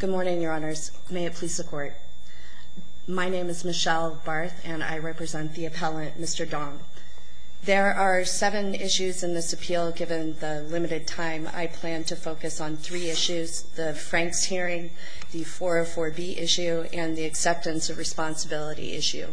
Good morning, Your Honors. May it please the Court. My name is Michelle Barth and I represent the appellant, Mr. Dong. There are seven issues in this appeal. Given the limited time, I plan to focus on three issues, the Franks hearing, the 404B issue, and the acceptance of responsibility issue,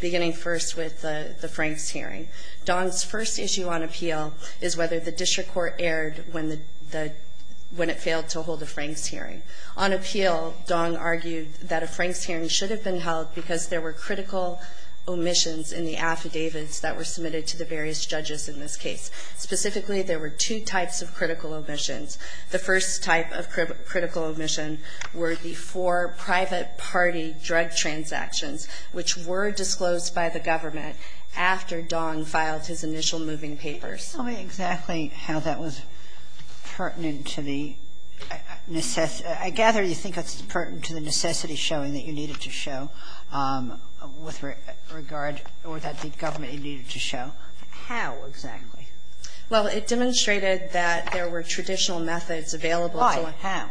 beginning first with the Franks hearing. Dong's first issue on appeal is whether the district court erred when it failed to hold a Franks hearing. On appeal, Dong argued that a Franks hearing should have been held because there were critical omissions in the affidavits that were submitted to the various judges in this case. Specifically, there were two types of critical omissions. The first type of critical omission were the four private party drug transactions, which were disclosed by the government after Dong filed his initial moving papers. Sotomayor, could you tell me exactly how that was pertinent to the necessity I gather you think it's pertinent to the necessity showing that you needed to show with regard or that the government needed to show. How exactly? Well, it demonstrated that there were traditional methods available to one. Why? How?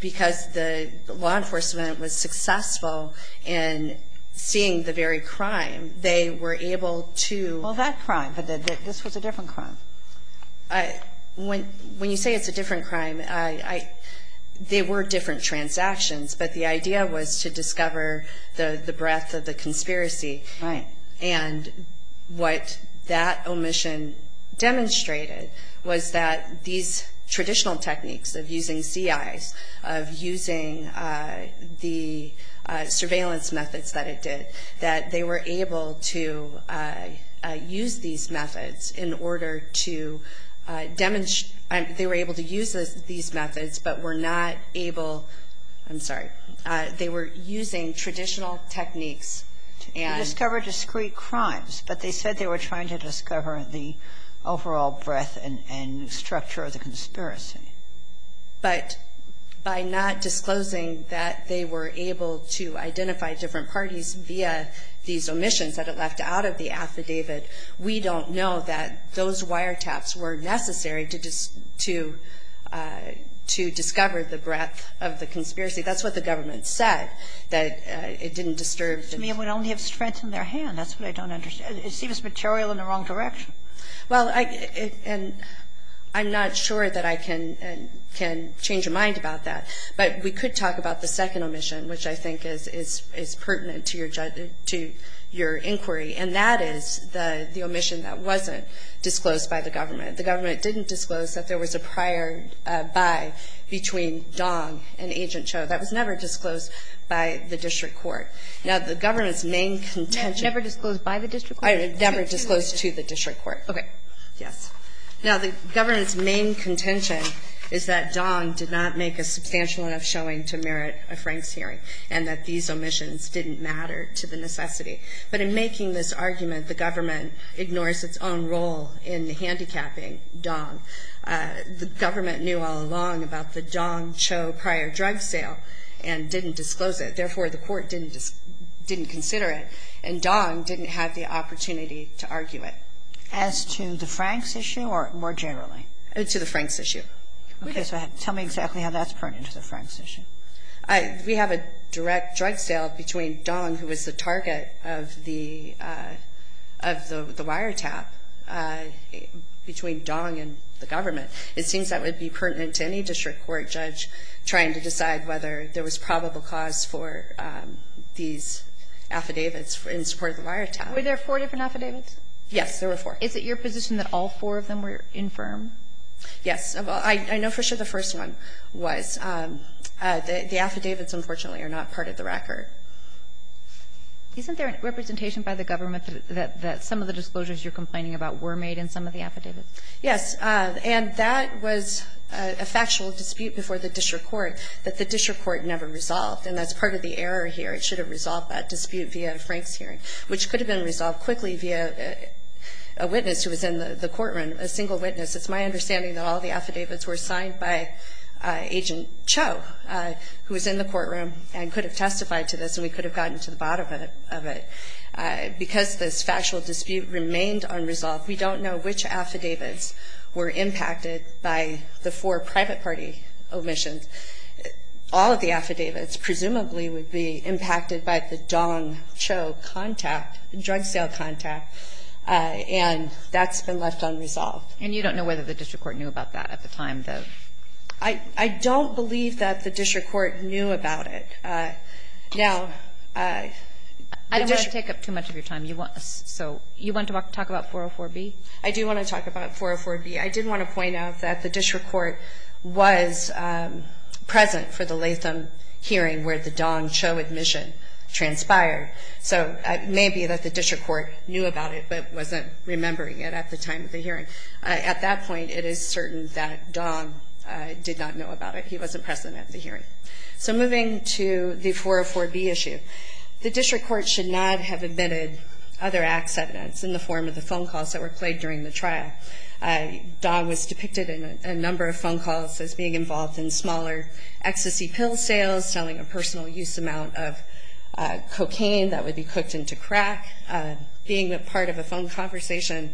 Because the law enforcement was successful in seeing the very crime. They were able to Well, that crime. This was a different crime. When you say it's a different crime, they were different transactions, but the idea was to discover the breadth of the conspiracy. Right. And what that omission demonstrated was that these traditional techniques of using CIs, of using the surveillance methods that it did, that they were able to use these methods in order to demonstrate they were able to use these methods, but were not able I'm sorry. They were using traditional techniques and You discovered discrete crimes, but they said they were trying to discover the overall breadth and structure of the conspiracy. But by not disclosing that they were able to identify different parties via these omissions that it left out of the affidavit, we don't know that those wiretaps were necessary to discover the breadth of the conspiracy. That's what the government said, that it didn't disturb To me, it would only have strengthened their hand. That's what I don't understand. It seems material in the wrong direction. Well, I'm not sure that I can change my mind about that, but we could talk about the second omission, which I think is pertinent to your inquiry, and that is the omission that wasn't disclosed by the government. The government didn't disclose that there was a prior buy between Dong and Agent Cho. That was never disclosed by the district court. Now, the government's main contention Never disclosed by the district court? Never disclosed to the district court. Okay. Yes. Now, the government's main contention is that Dong did not make a substantial enough showing to merit a Franks hearing, and that these omissions didn't matter to the necessity. But in making this argument, the government ignores its own role in handicapping Dong. The government knew all along about the Dong-Cho prior drug sale and didn't disclose it. Therefore, the court didn't consider it, and Dong didn't have the opportunity to argue it. As to the Franks issue or more generally? To the Franks issue. Okay. So tell me exactly how that's pertinent to the Franks issue. We have a direct drug sale between Dong, who was the target of the wiretap, between Dong and the government. It seems that would be pertinent to any district court judge trying to decide whether there was probable cause for these affidavits in support of the wiretap. Were there four different affidavits? Yes, there were four. Is it your position that all four of them were infirm? Yes. I know for sure the first one was. The affidavits, unfortunately, are not part of the record. Isn't there a representation by the government that some of the disclosures you're complaining about were made in some of the affidavits? Yes. And that was a factual dispute before the district court, that the district court never resolved, and that's part of the error here. It should have resolved that dispute via a Franks hearing, which could have been resolved quickly via a witness who was in the courtroom, a single witness. It's my understanding that all the affidavits were signed by Agent Cho, who was in the courtroom and could have testified to this, and we could have gotten to the bottom of it. Because this factual dispute remained unresolved, we don't know which affidavits were impacted by the four private party omissions. All of the affidavits presumably would be impacted by the Dong Cho contact, the drug sale contact, and that's been left unresolved. And you don't know whether the district court knew about that at the time, though? I don't believe that the district court knew about it. Now, the district court ---- I don't want to take up too much of your time. So you want to talk about 404B? I do want to talk about 404B. I did want to point out that the district court was present for the Latham hearing where the Dong Cho admission transpired. So it may be that the district court knew about it but wasn't remembering it at the time of the hearing. At that point, it is certain that Dong did not know about it. He wasn't present at the hearing. So moving to the 404B issue, the district court should not have admitted other acts evidence in the form of the phone calls that were played during the trial. Dong was depicted in a number of phone calls as being involved in smaller ecstasy pill sales, selling a personal use amount of cocaine that would be cooked into crack, being a part of a phone conversation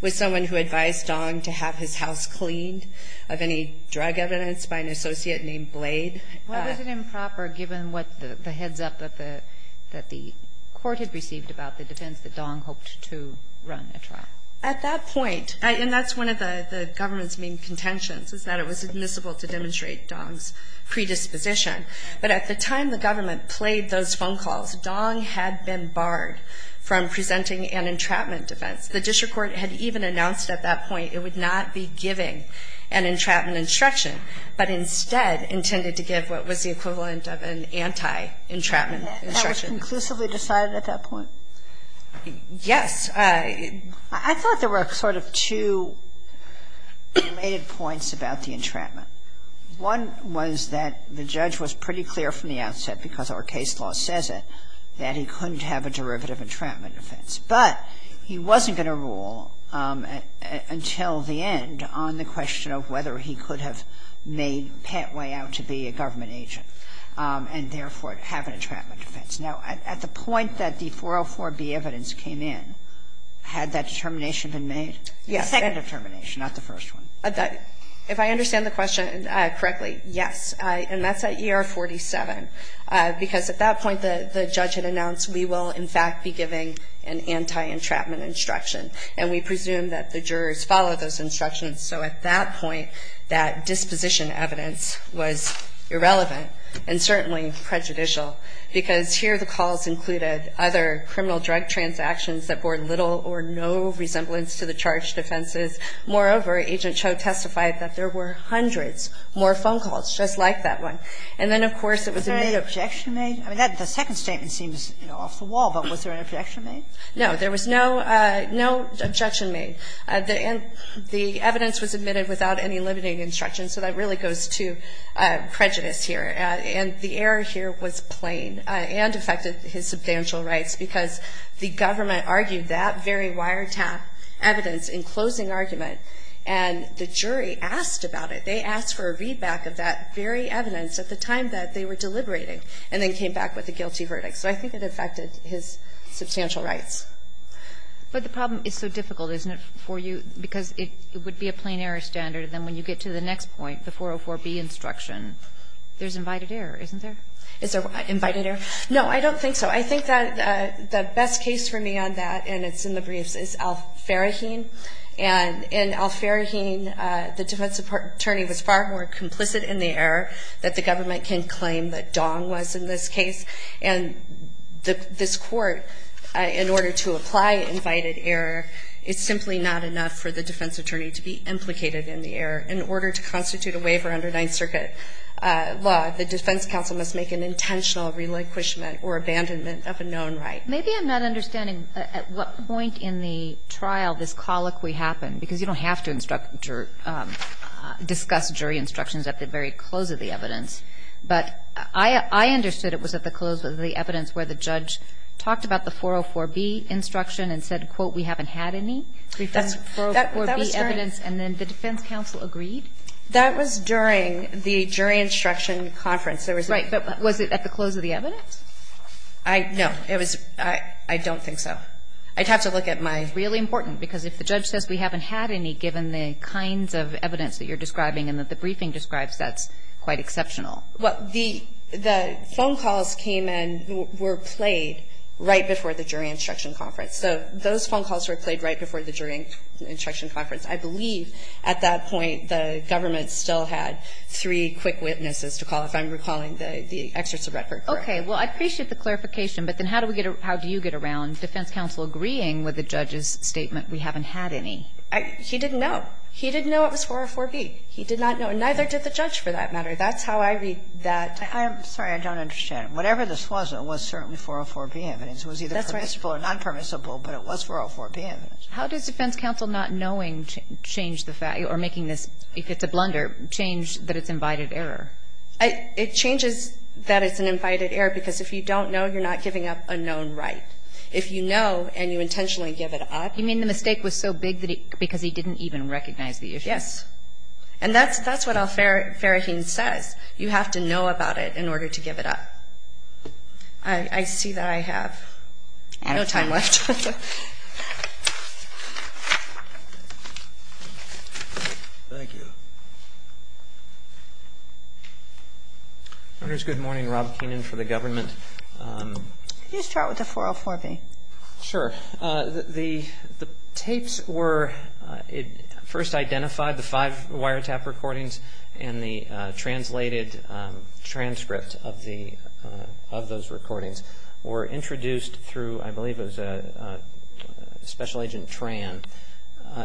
with someone who advised Dong to have his house cleaned of any drug evidence by an associate named Blade. Why was it improper, given what the heads-up that the court had received about the defense that Dong hoped to run a trial? At that point, and that's one of the government's main contentions, is that it was admissible to demonstrate Dong's predisposition. But at the time the government played those phone calls, Dong had been barred from presenting an entrapment defense. The district court had even announced at that point it would not be giving an entrapment instruction, but instead intended to give what was the equivalent of an anti-entrapment instruction. That was conclusively decided at that point? Yes. I thought there were sort of two related points about the entrapment. One was that the judge was pretty clear from the outset, because our case law says it, that he couldn't have a derivative entrapment defense. But he wasn't going to rule until the end on the question of whether he could have made pat way out to be a government agent and therefore have an entrapment defense. Now, at the point that the 404B evidence came in, had that determination been made? Yes. The second determination, not the first one. If I understand the question correctly, yes. And that's at ER 47. Because at that point the judge had announced we will in fact be giving an anti-entrapment instruction. And we presume that the jurors followed those instructions. So at that point, that disposition evidence was irrelevant and certainly prejudicial. Because here the calls included other criminal drug transactions that bore little or no resemblance to the charged offenses. Moreover, Agent Cho testified that there were hundreds more phone calls, just like that one. And then, of course, it was a made objection. Was there any objection made? I mean, the second statement seems, you know, off the wall. But was there an objection made? No. There was no objection made. The evidence was admitted without any limiting instructions, so that really goes to prejudice here. And the error here was plain and affected his substantial rights. Because the government argued that very wiretap evidence in closing argument, and the jury asked about it. They asked for a readback of that very evidence at the time that they were deliberating and then came back with a guilty verdict. So I think it affected his substantial rights. But the problem is so difficult, isn't it, for you, because it would be a plain error standard. And then when you get to the next point, the 404B instruction, there's invited error, isn't there? Is there invited error? No, I don't think so. I think that the best case for me on that, and it's in the briefs, is Al-Faraheen. And in Al-Faraheen, the defense attorney was far more complicit in the error that the government can claim that Dong was in this case. And this Court, in order to apply invited error, is simply not enough for the defense attorney to be implicated in the error. In order to constitute a waiver under Ninth Circuit law, the defense counsel must make an intentional relinquishment or abandonment of a known right. Maybe I'm not understanding at what point in the trial this colloquy happened, because you don't have to instruct or discuss jury instructions at the very close of the evidence. But I understood it was at the close of the evidence where the judge talked about the 404B instruction and said, quote, we haven't had any. That was during the jury instruction conference. Right. But was it at the close of the evidence? No. I don't think so. I'd have to look at my ---- It's really important, because if the judge says we haven't had any given the kinds of evidence that you're describing and that the briefing describes, that's quite exceptional. Well, the phone calls came and were played right before the jury instruction conference. So those phone calls were played right before the jury instruction conference. I believe at that point the government still had three quick witnesses to call, if I'm recalling the excerpts of Redford. Okay. Well, I appreciate the clarification. But then how do we get a ---- how do you get around defense counsel agreeing with the judge's statement, we haven't had any? He didn't know. He didn't know it was 404B. He did not know. And neither did the judge, for that matter. That's how I read that. I'm sorry. I don't understand. Whatever this was, it was certainly 404B evidence. That's right. It's not permissible or nonpermissible, but it was 404B evidence. How does defense counsel not knowing change the fact or making this, if it's a blunder, change that it's invited error? It changes that it's an invited error because if you don't know, you're not giving up a known right. If you know and you intentionally give it up ---- You mean the mistake was so big that he ---- because he didn't even recognize the issue. Yes. And that's what Al-Faraheen says. You have to know about it in order to give it up. I see that I have ---- No time left. Thank you. Good morning. Rob Keenan for the government. Could you start with the 404B? Sure. The tapes were first identified, the five wiretap recordings and the translated transcript of those recordings were introduced through, I believe it was Special Agent Tran.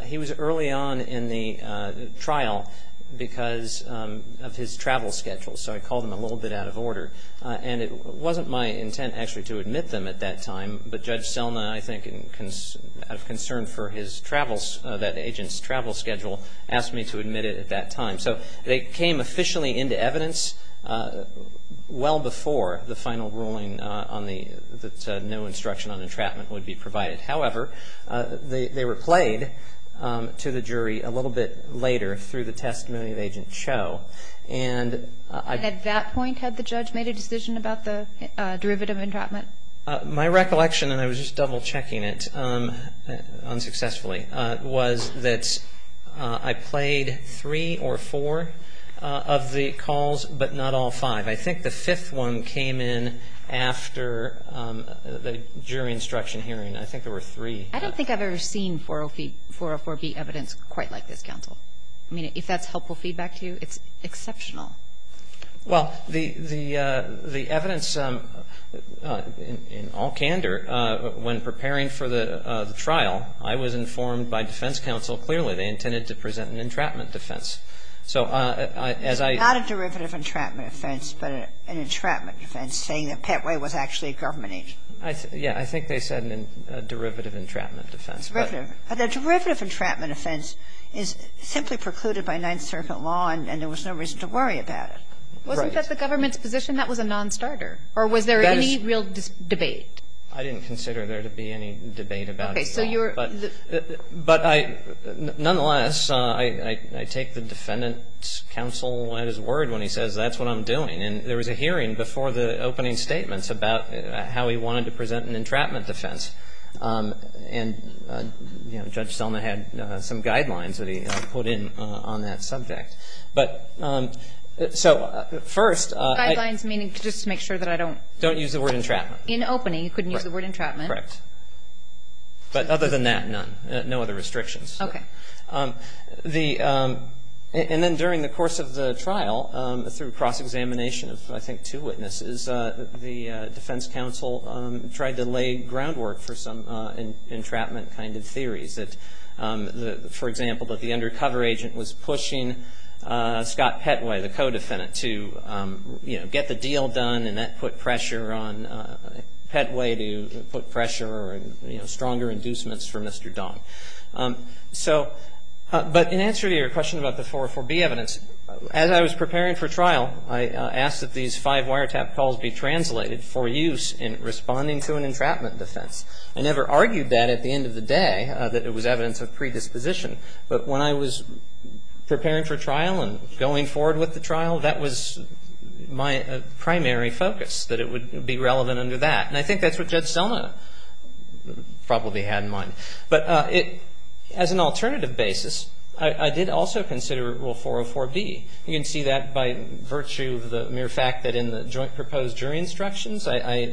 He was early on in the trial because of his travel schedule. So I called him a little bit out of order. And it wasn't my intent actually to admit them at that time, but Judge Selma, I think, out of concern for that agent's travel schedule, asked me to admit it at that time. So they came officially into evidence well before the final ruling that no instruction on entrapment would be provided. However, they were played to the jury a little bit later through the testimony of Agent Cho. And I ---- And at that point had the judge made a decision about the derivative entrapment? My recollection, and I was just double checking it unsuccessfully, was that I played three or four of the calls, but not all five. I think the fifth one came in after the jury instruction hearing. I think there were three. I don't think I've ever seen 404B evidence quite like this, counsel. I mean, if that's helpful feedback to you, it's exceptional. Well, the evidence, in all candor, when preparing for the trial, I was informed by defense counsel clearly they intended to present an entrapment defense. So as I ---- Not a derivative entrapment offense, but an entrapment offense, saying that Petway was actually a government agent. Yeah. I think they said a derivative entrapment offense. Derivative. A derivative entrapment offense is simply precluded by Ninth Circuit law, and there was no reason to worry about it. Wasn't that the government's position? That was a nonstarter. Or was there any real debate? I didn't consider there to be any debate about it at all. Okay. So you're ---- But I ---- nonetheless, I take the defendant's counsel at his word when he says that's what I'm doing. And there was a hearing before the opening statements about how he wanted to present an entrapment defense. And, you know, Judge Selma had some guidelines that he put in on that subject. But so first ---- Guidelines meaning just to make sure that I don't ---- Don't use the word entrapment. In opening, you couldn't use the word entrapment. Correct. But other than that, none. No other restrictions. Okay. The ---- and then during the course of the trial, through cross-examination of, I think, two witnesses, the defense counsel tried to lay groundwork for some entrapment kind of theories. That, for example, that the undercover agent was pushing Scott Petway, the co-defendant, to, you know, get the deal done. And that put pressure on Petway to put pressure or, you know, stronger inducements for Mr. Dong. So ---- but in answer to your question about the 404B evidence, as I was preparing for trial, I asked that these five wiretap calls be translated for use in responding to an entrapment defense. I never argued that at the end of the day, that it was evidence of predisposition. But when I was preparing for trial and going forward with the trial, that was my primary focus, that it would be relevant under that. And I think that's what Judge Selma probably had in mind. But it ---- as an alternative basis, I did also consider Rule 404B. You can see that by virtue of the mere fact that in the joint proposed jury instructions, I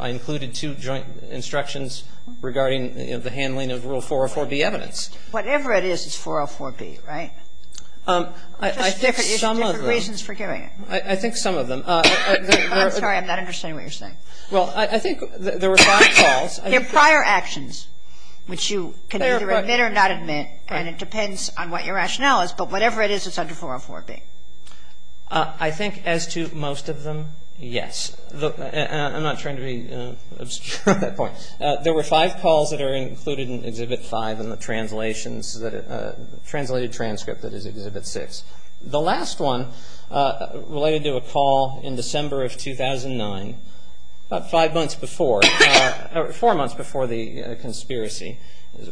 included two joint instructions regarding, you know, the handling of Rule 404B evidence. Whatever it is, it's 404B, right? I think some of them. There's different reasons for doing it. I think some of them. I'm sorry. I'm not understanding what you're saying. Well, I think the response calls ---- They're prior actions, which you can either admit or not admit, and it depends on what your rationale is. But whatever it is, it's under 404B. I think as to most of them, yes. I'm not trying to be obscure at that point. There were five calls that are included in Exhibit 5 in the translations that ---- translated transcript that is Exhibit 6. The last one related to a call in December of 2009, about five months before or four months before the conspiracy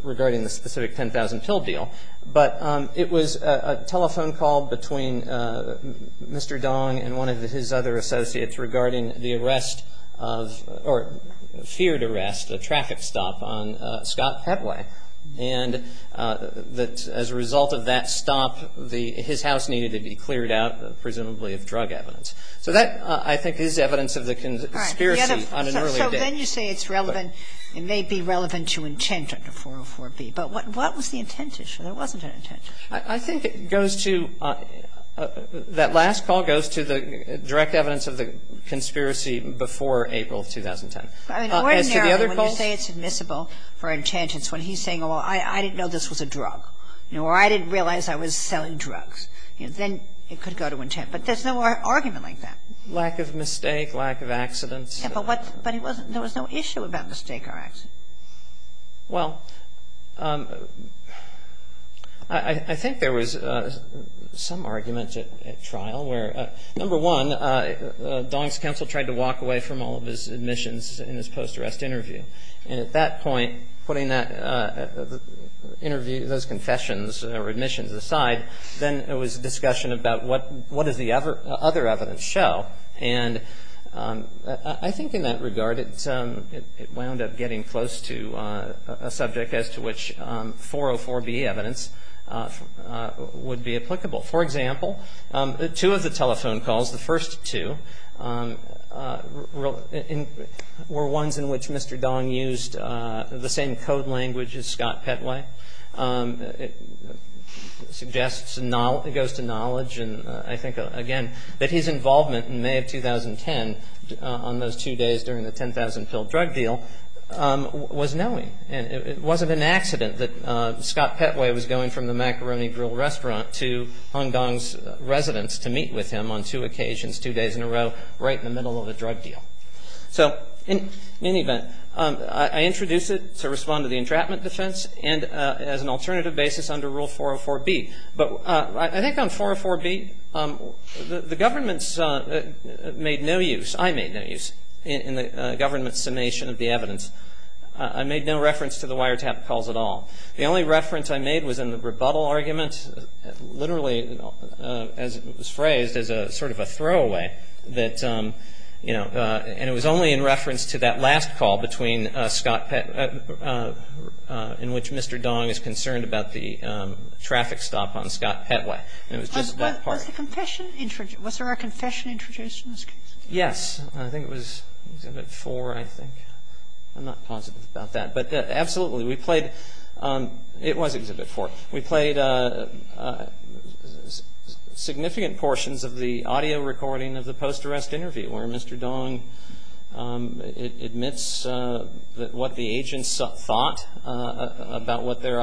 regarding the specific 10,000 pill deal. But it was a telephone call between Mr. Dong and one of his other associates regarding the arrest of or feared arrest, a traffic stop on Scott Headway. And as a result of that stop, his house needed to be cleared out, presumably of drug evidence. So that, I think, is evidence of the conspiracy on an earlier date. So then you say it's relevant, it may be relevant to intent under 404B. But what was the intent issue? There wasn't an intent issue. I think it goes to ---- that last call goes to the direct evidence of the conspiracy before April of 2010. I mean, ordinarily when you say it's admissible for intent, it's when he's saying, oh, I didn't know this was a drug, or I didn't realize I was selling drugs. Then it could go to intent. But there's no argument like that. Lack of mistake, lack of accidents. Yes, but what ---- but he wasn't ---- there was no issue about mistake or accident. Well, I think there was some argument at trial where, number one, Dong's counsel tried to walk away from all of his admissions in his post-arrest interview. And at that point, putting that interview, those confessions or admissions aside, then it was a discussion about what does the other evidence show. And I think in that regard, it wound up getting close to a subject as to which 404B evidence would be applicable. For example, two of the telephone calls, the first two, were ones in which Mr. Dong used the same code language as Scott Petway. It suggests and goes to knowledge, and I think, again, that his involvement in May of 2010 on those two days during the 10,000 pill drug deal was knowing. It wasn't an accident that Scott Petway was going from the macaroni grill restaurant to Hung Dong's residence to meet with him on two occasions, two days in a row, right in the middle of a drug deal. So, in any event, I introduce it to respond to the entrapment defense and as an alternative basis under Rule 404B. But I think on 404B, the government's made no use, I made no use in the government's summation of the evidence. I made no reference to the wiretap calls at all. The only reference I made was in the rebuttal argument, literally, as it was phrased, as a sort of a throwaway that, you know, and it was only in reference to that last call between Scott Petway, in which Mr. Dong is concerned about the traffic stop on Scott Petway. And it was just that part. Was there a confession introduced in this case? Yes. I think it was at 4, I think. I'm not positive about that. But absolutely, we played, it was Exhibit 4. We played significant portions of the audio recording of the post-arrest interview where Mr. Dong admits that what the agents thought about their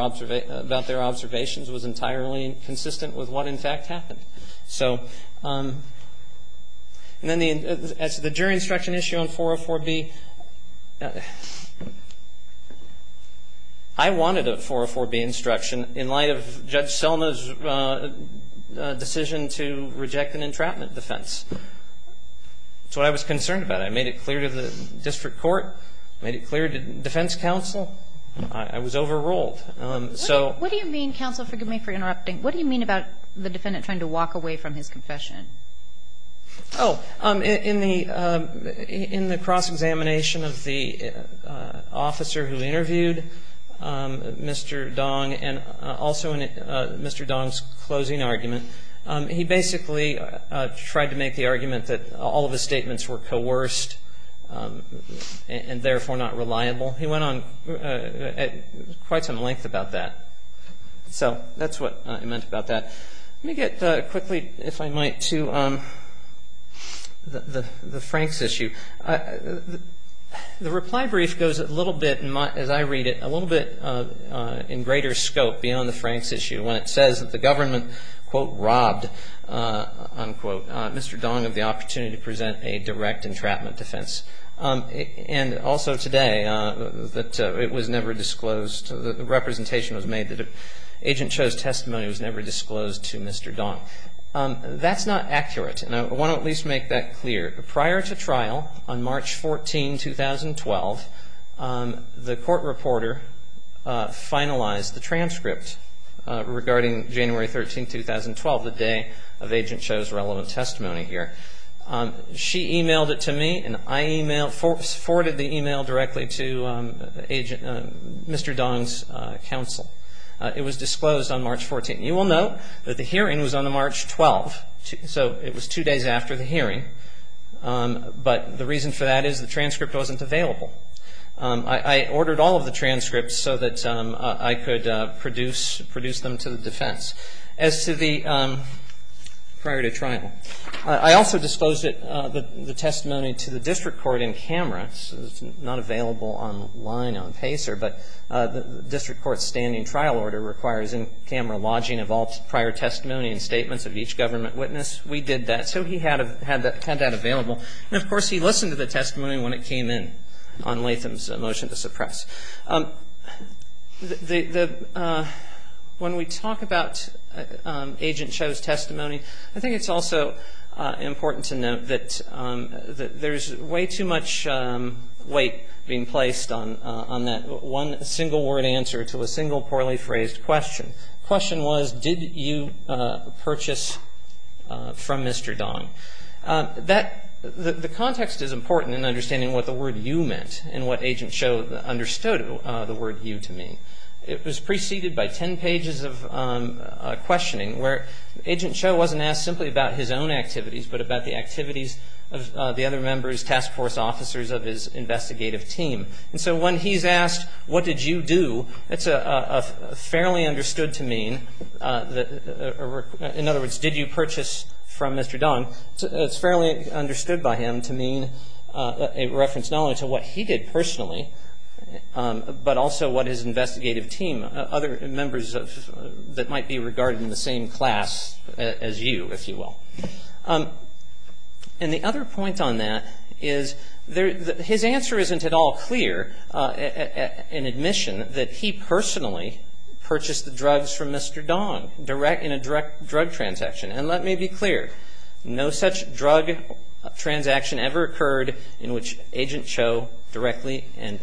observations was entirely consistent with what, in fact, happened. So, and then the jury instruction issue on 404B, I wanted a 404B instruction in light of Judge Selma's decision to reject an entrapment defense. That's what I was concerned about. I made it clear to the district court. I made it clear to defense counsel. I was overruled. In the cross-examination of the indicator, what do you mean by cross-examination? What do you mean about the defendant trying to walk away from his confession? Oh, in the cross-examination of the officer who interviewed Mr. Dong and also in Mr. Let me get quickly, if I might, to the Franks issue. The reply brief goes a little bit, as I read it, a little bit in greater scope beyond the Franks issue when it says that the government, quote, robbed, unquote, Mr. Dong of the opportunity to present a direct entrapment defense. And also today that it was never disclosed, the representation was made that Agent Cho's testimony was never disclosed to Mr. Dong. That's not accurate. And I want to at least make that clear. Prior to trial on March 14, 2012, the court reporter finalized the transcript regarding January 13, 2012, the day of Agent Cho's relevant testimony here. She emailed it to me and I forwarded the email directly to Mr. Dong's counsel. It was disclosed on March 14. You will note that the hearing was on March 12, so it was two days after the hearing. But the reason for that is the transcript wasn't available. I ordered all of the transcripts so that I could produce them to the defense. As to the prior to trial, I also disposed the testimony to the district court in camera. It's not available online on PACER, but the district court's standing trial order requires in-camera lodging of all prior testimony and statements of each government witness. We did that. So he had that available. And, of course, he listened to the testimony when it came in on Latham's motion to suppress. When we talk about Agent Cho's testimony, I think it's also important to note that there's way too much weight being placed on that one single-word answer to a single poorly phrased question. The question was, did you purchase from Mr. Dong? That the context is important in understanding what the word you meant and what Agent Cho understood the word you to mean. It was preceded by ten pages of questioning where Agent Cho wasn't asked simply about his own activities, but about the activities of the other members, task force officers of his investigative team. And so when he's asked, what did you do, it's fairly understood to mean, in other words, did you purchase from Mr. Dong, it's fairly understood by him to mean a reference not only to what he did personally, but also what his investigative team, other members that might be regarded in the same class as you, if you will. And the other point on that is his answer isn't at all clear in admission that he personally purchased the drugs from Mr. Dong in a direct drug transaction. And let me be clear, no such drug transaction ever occurred in which Agent Cho directly and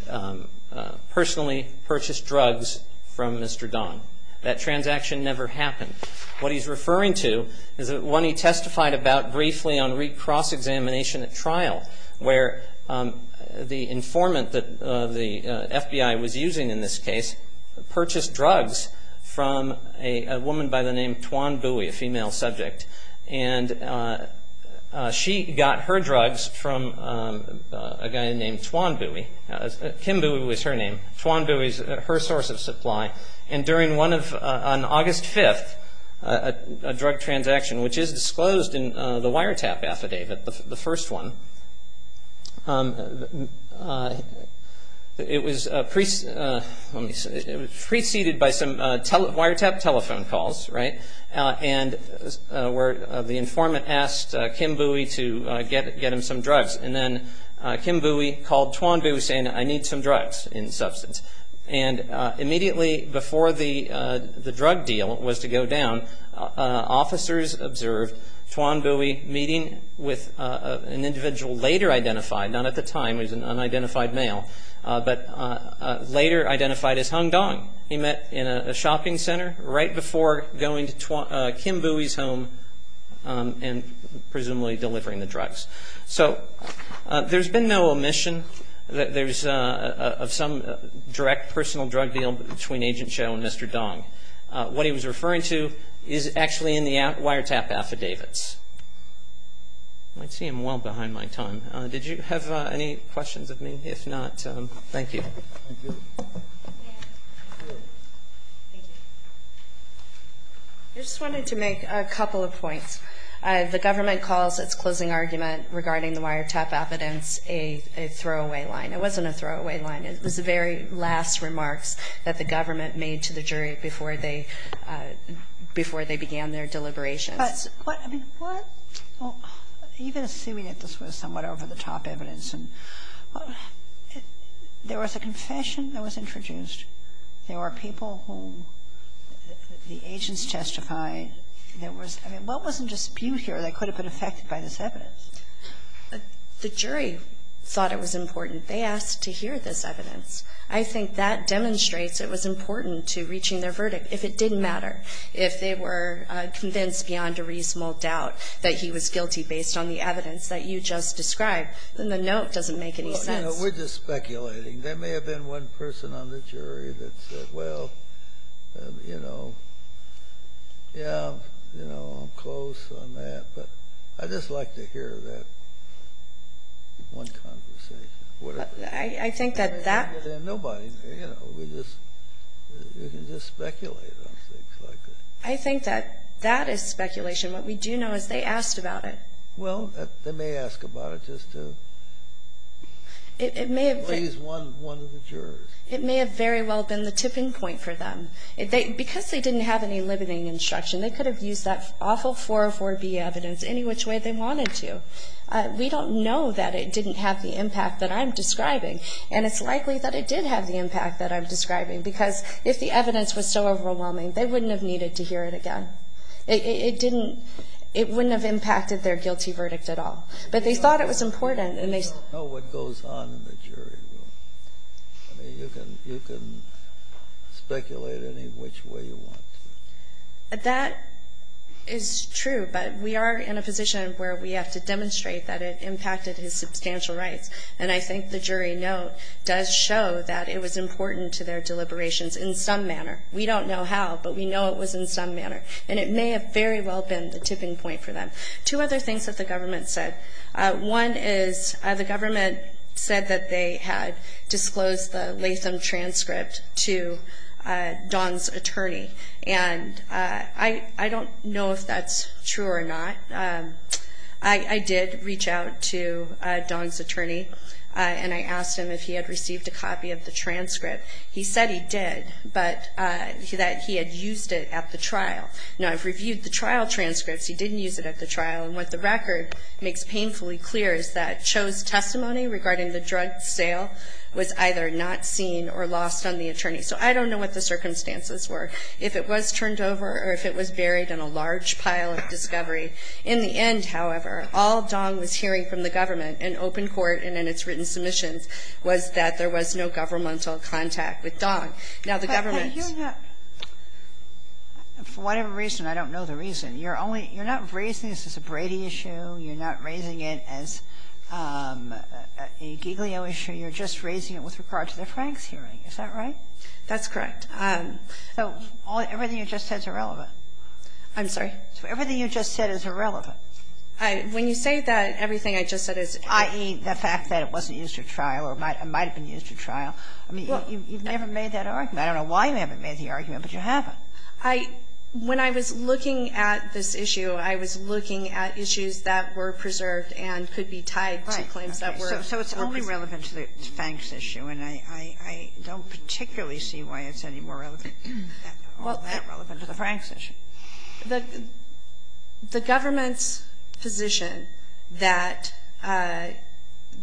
personally purchased drugs from Mr. Dong. That transaction never happened. What he's referring to is one he testified about briefly on cross-examination at trial, where the informant that the FBI was using in this case purchased drugs from a woman by the name Tuan Bui, a female subject, and she got her drugs from a guy named Tuan Bui. Kim Bui was her name. Tuan Bui is her source of supply. And during one of, on August 5th, a drug transaction, which is disclosed in the wiretap affidavit, the first one, it was preceded by some wiretap telephone calls, right, and where the informant asked Kim Bui to get him some drugs. And then Kim Bui called Tuan Bui saying, I need some drugs in substance. And immediately before the drug deal was to go down, officers observed Tuan Bui meeting with an individual later identified, not at the time, he was an unidentified male, but later identified as Hung Dong. He met in a shopping center right before going to Kim Bui's home and presumably delivering the drugs. So there's been no omission of some direct personal drug deal between Agent Cho and Mr. Dong. What he was referring to is actually in the wiretap affidavits. I see I'm well behind my time. Did you have any questions of me? If not, thank you. I just wanted to make a couple of points. The government calls its closing argument regarding the wiretap affidavits a throwaway line. It wasn't a throwaway line. It was the very last remarks that the government made to the jury before they began their deliberations. Even assuming that this was somewhat over-the-top evidence, there was a confession that was introduced. There were people whom the agents testified. I mean, what was in dispute here that could have been affected by this evidence? The jury thought it was important. They asked to hear this evidence. I think that demonstrates it was important to reaching their verdict. If it didn't matter, if they were convinced beyond a reasonable doubt that he was guilty based on the evidence that you just described, then the note doesn't make any sense. We're just speculating. There may have been one person on the jury that said, well, you know, yeah, you know, I'm close on that. But I'd just like to hear that one conversation. I think that that. Nobody, you know, we just speculate on things like that. I think that that is speculation. What we do know is they asked about it. Well, they may ask about it just to please one of the jurors. It may have very well been the tipping point for them. Because they didn't have any limiting instruction, they could have used that awful 404B evidence any which way they wanted to. We don't know that it didn't have the impact that I'm describing. And it's likely that it did have the impact that I'm describing, because if the evidence was so overwhelming, they wouldn't have needed to hear it again. It didn't ‑‑ it wouldn't have impacted their guilty verdict at all. But they thought it was important. We don't know what goes on in the jury room. I mean, you can speculate any which way you want to. That is true. But we are in a position where we have to demonstrate that it impacted his substantial rights. And I think the jury note does show that it was important to their deliberations in some manner. We don't know how, but we know it was in some manner. And it may have very well been the tipping point for them. Two other things that the government said. One is the government said that they had disclosed the Latham transcript to Don's attorney. And I don't know if that's true or not. I did reach out to Don's attorney, and I asked him if he had received a copy of the transcript. He said he did, but that he had used it at the trial. Now, I've reviewed the trial transcripts. He didn't use it at the trial. And what the record makes painfully clear is that Cho's testimony regarding the drug sale was either not seen or lost on the attorney. So I don't know what the circumstances were, if it was turned over or if it was buried in a large pile of discovery. In the end, however, all Don was hearing from the government in open court and in its written submissions was that there was no governmental contact with Don. Now, the government's ---- Sotomayor, for whatever reason, I don't know the reason. You're not raising this as a Brady issue. You're not raising it as a Giglio issue. You're just raising it with regard to the Franks hearing. Is that right? That's correct. So everything you just said is irrelevant. I'm sorry? Everything you just said is irrelevant. When you say that, everything I just said is irrelevant. I.e., the fact that it wasn't used at trial or might have been used at trial. I mean, you've never made that argument. I don't know why you haven't made the argument, but you haven't. When I was looking at this issue, I was looking at issues that were preserved and could be tied to claims that were. So it's only relevant to the Franks issue, and I don't particularly see why it's any more relevant, all that relevant to the Franks issue. The government's position that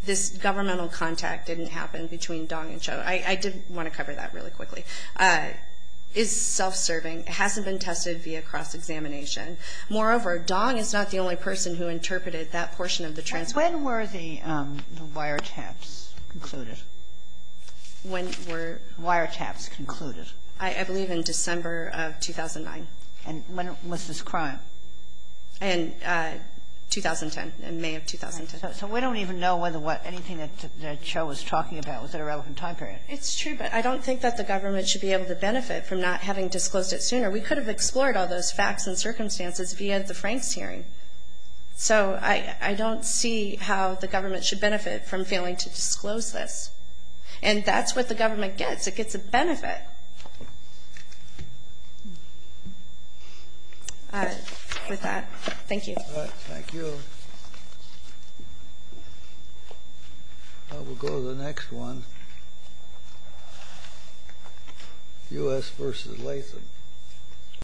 this governmental contact didn't happen between Don and Joe, I did want to cover that really quickly, is self-serving. It hasn't been tested via cross-examination. Moreover, Don is not the only person who interpreted that portion of the transcript. When were the wiretaps concluded? When were... Wiretaps concluded. I believe in December of 2009. And when was this crime? In 2010, in May of 2010. So we don't even know whether what anything that Joe was talking about was at a relevant time period. It's true, but I don't think that the government should be able to benefit from not having disclosed it sooner. We could have explored all those facts and circumstances via the Franks hearing. So I don't see how the government should benefit from failing to disclose this. And that's what the government gets. It gets a benefit. With that, thank you. I will go to the next one, U.S. v. Latham.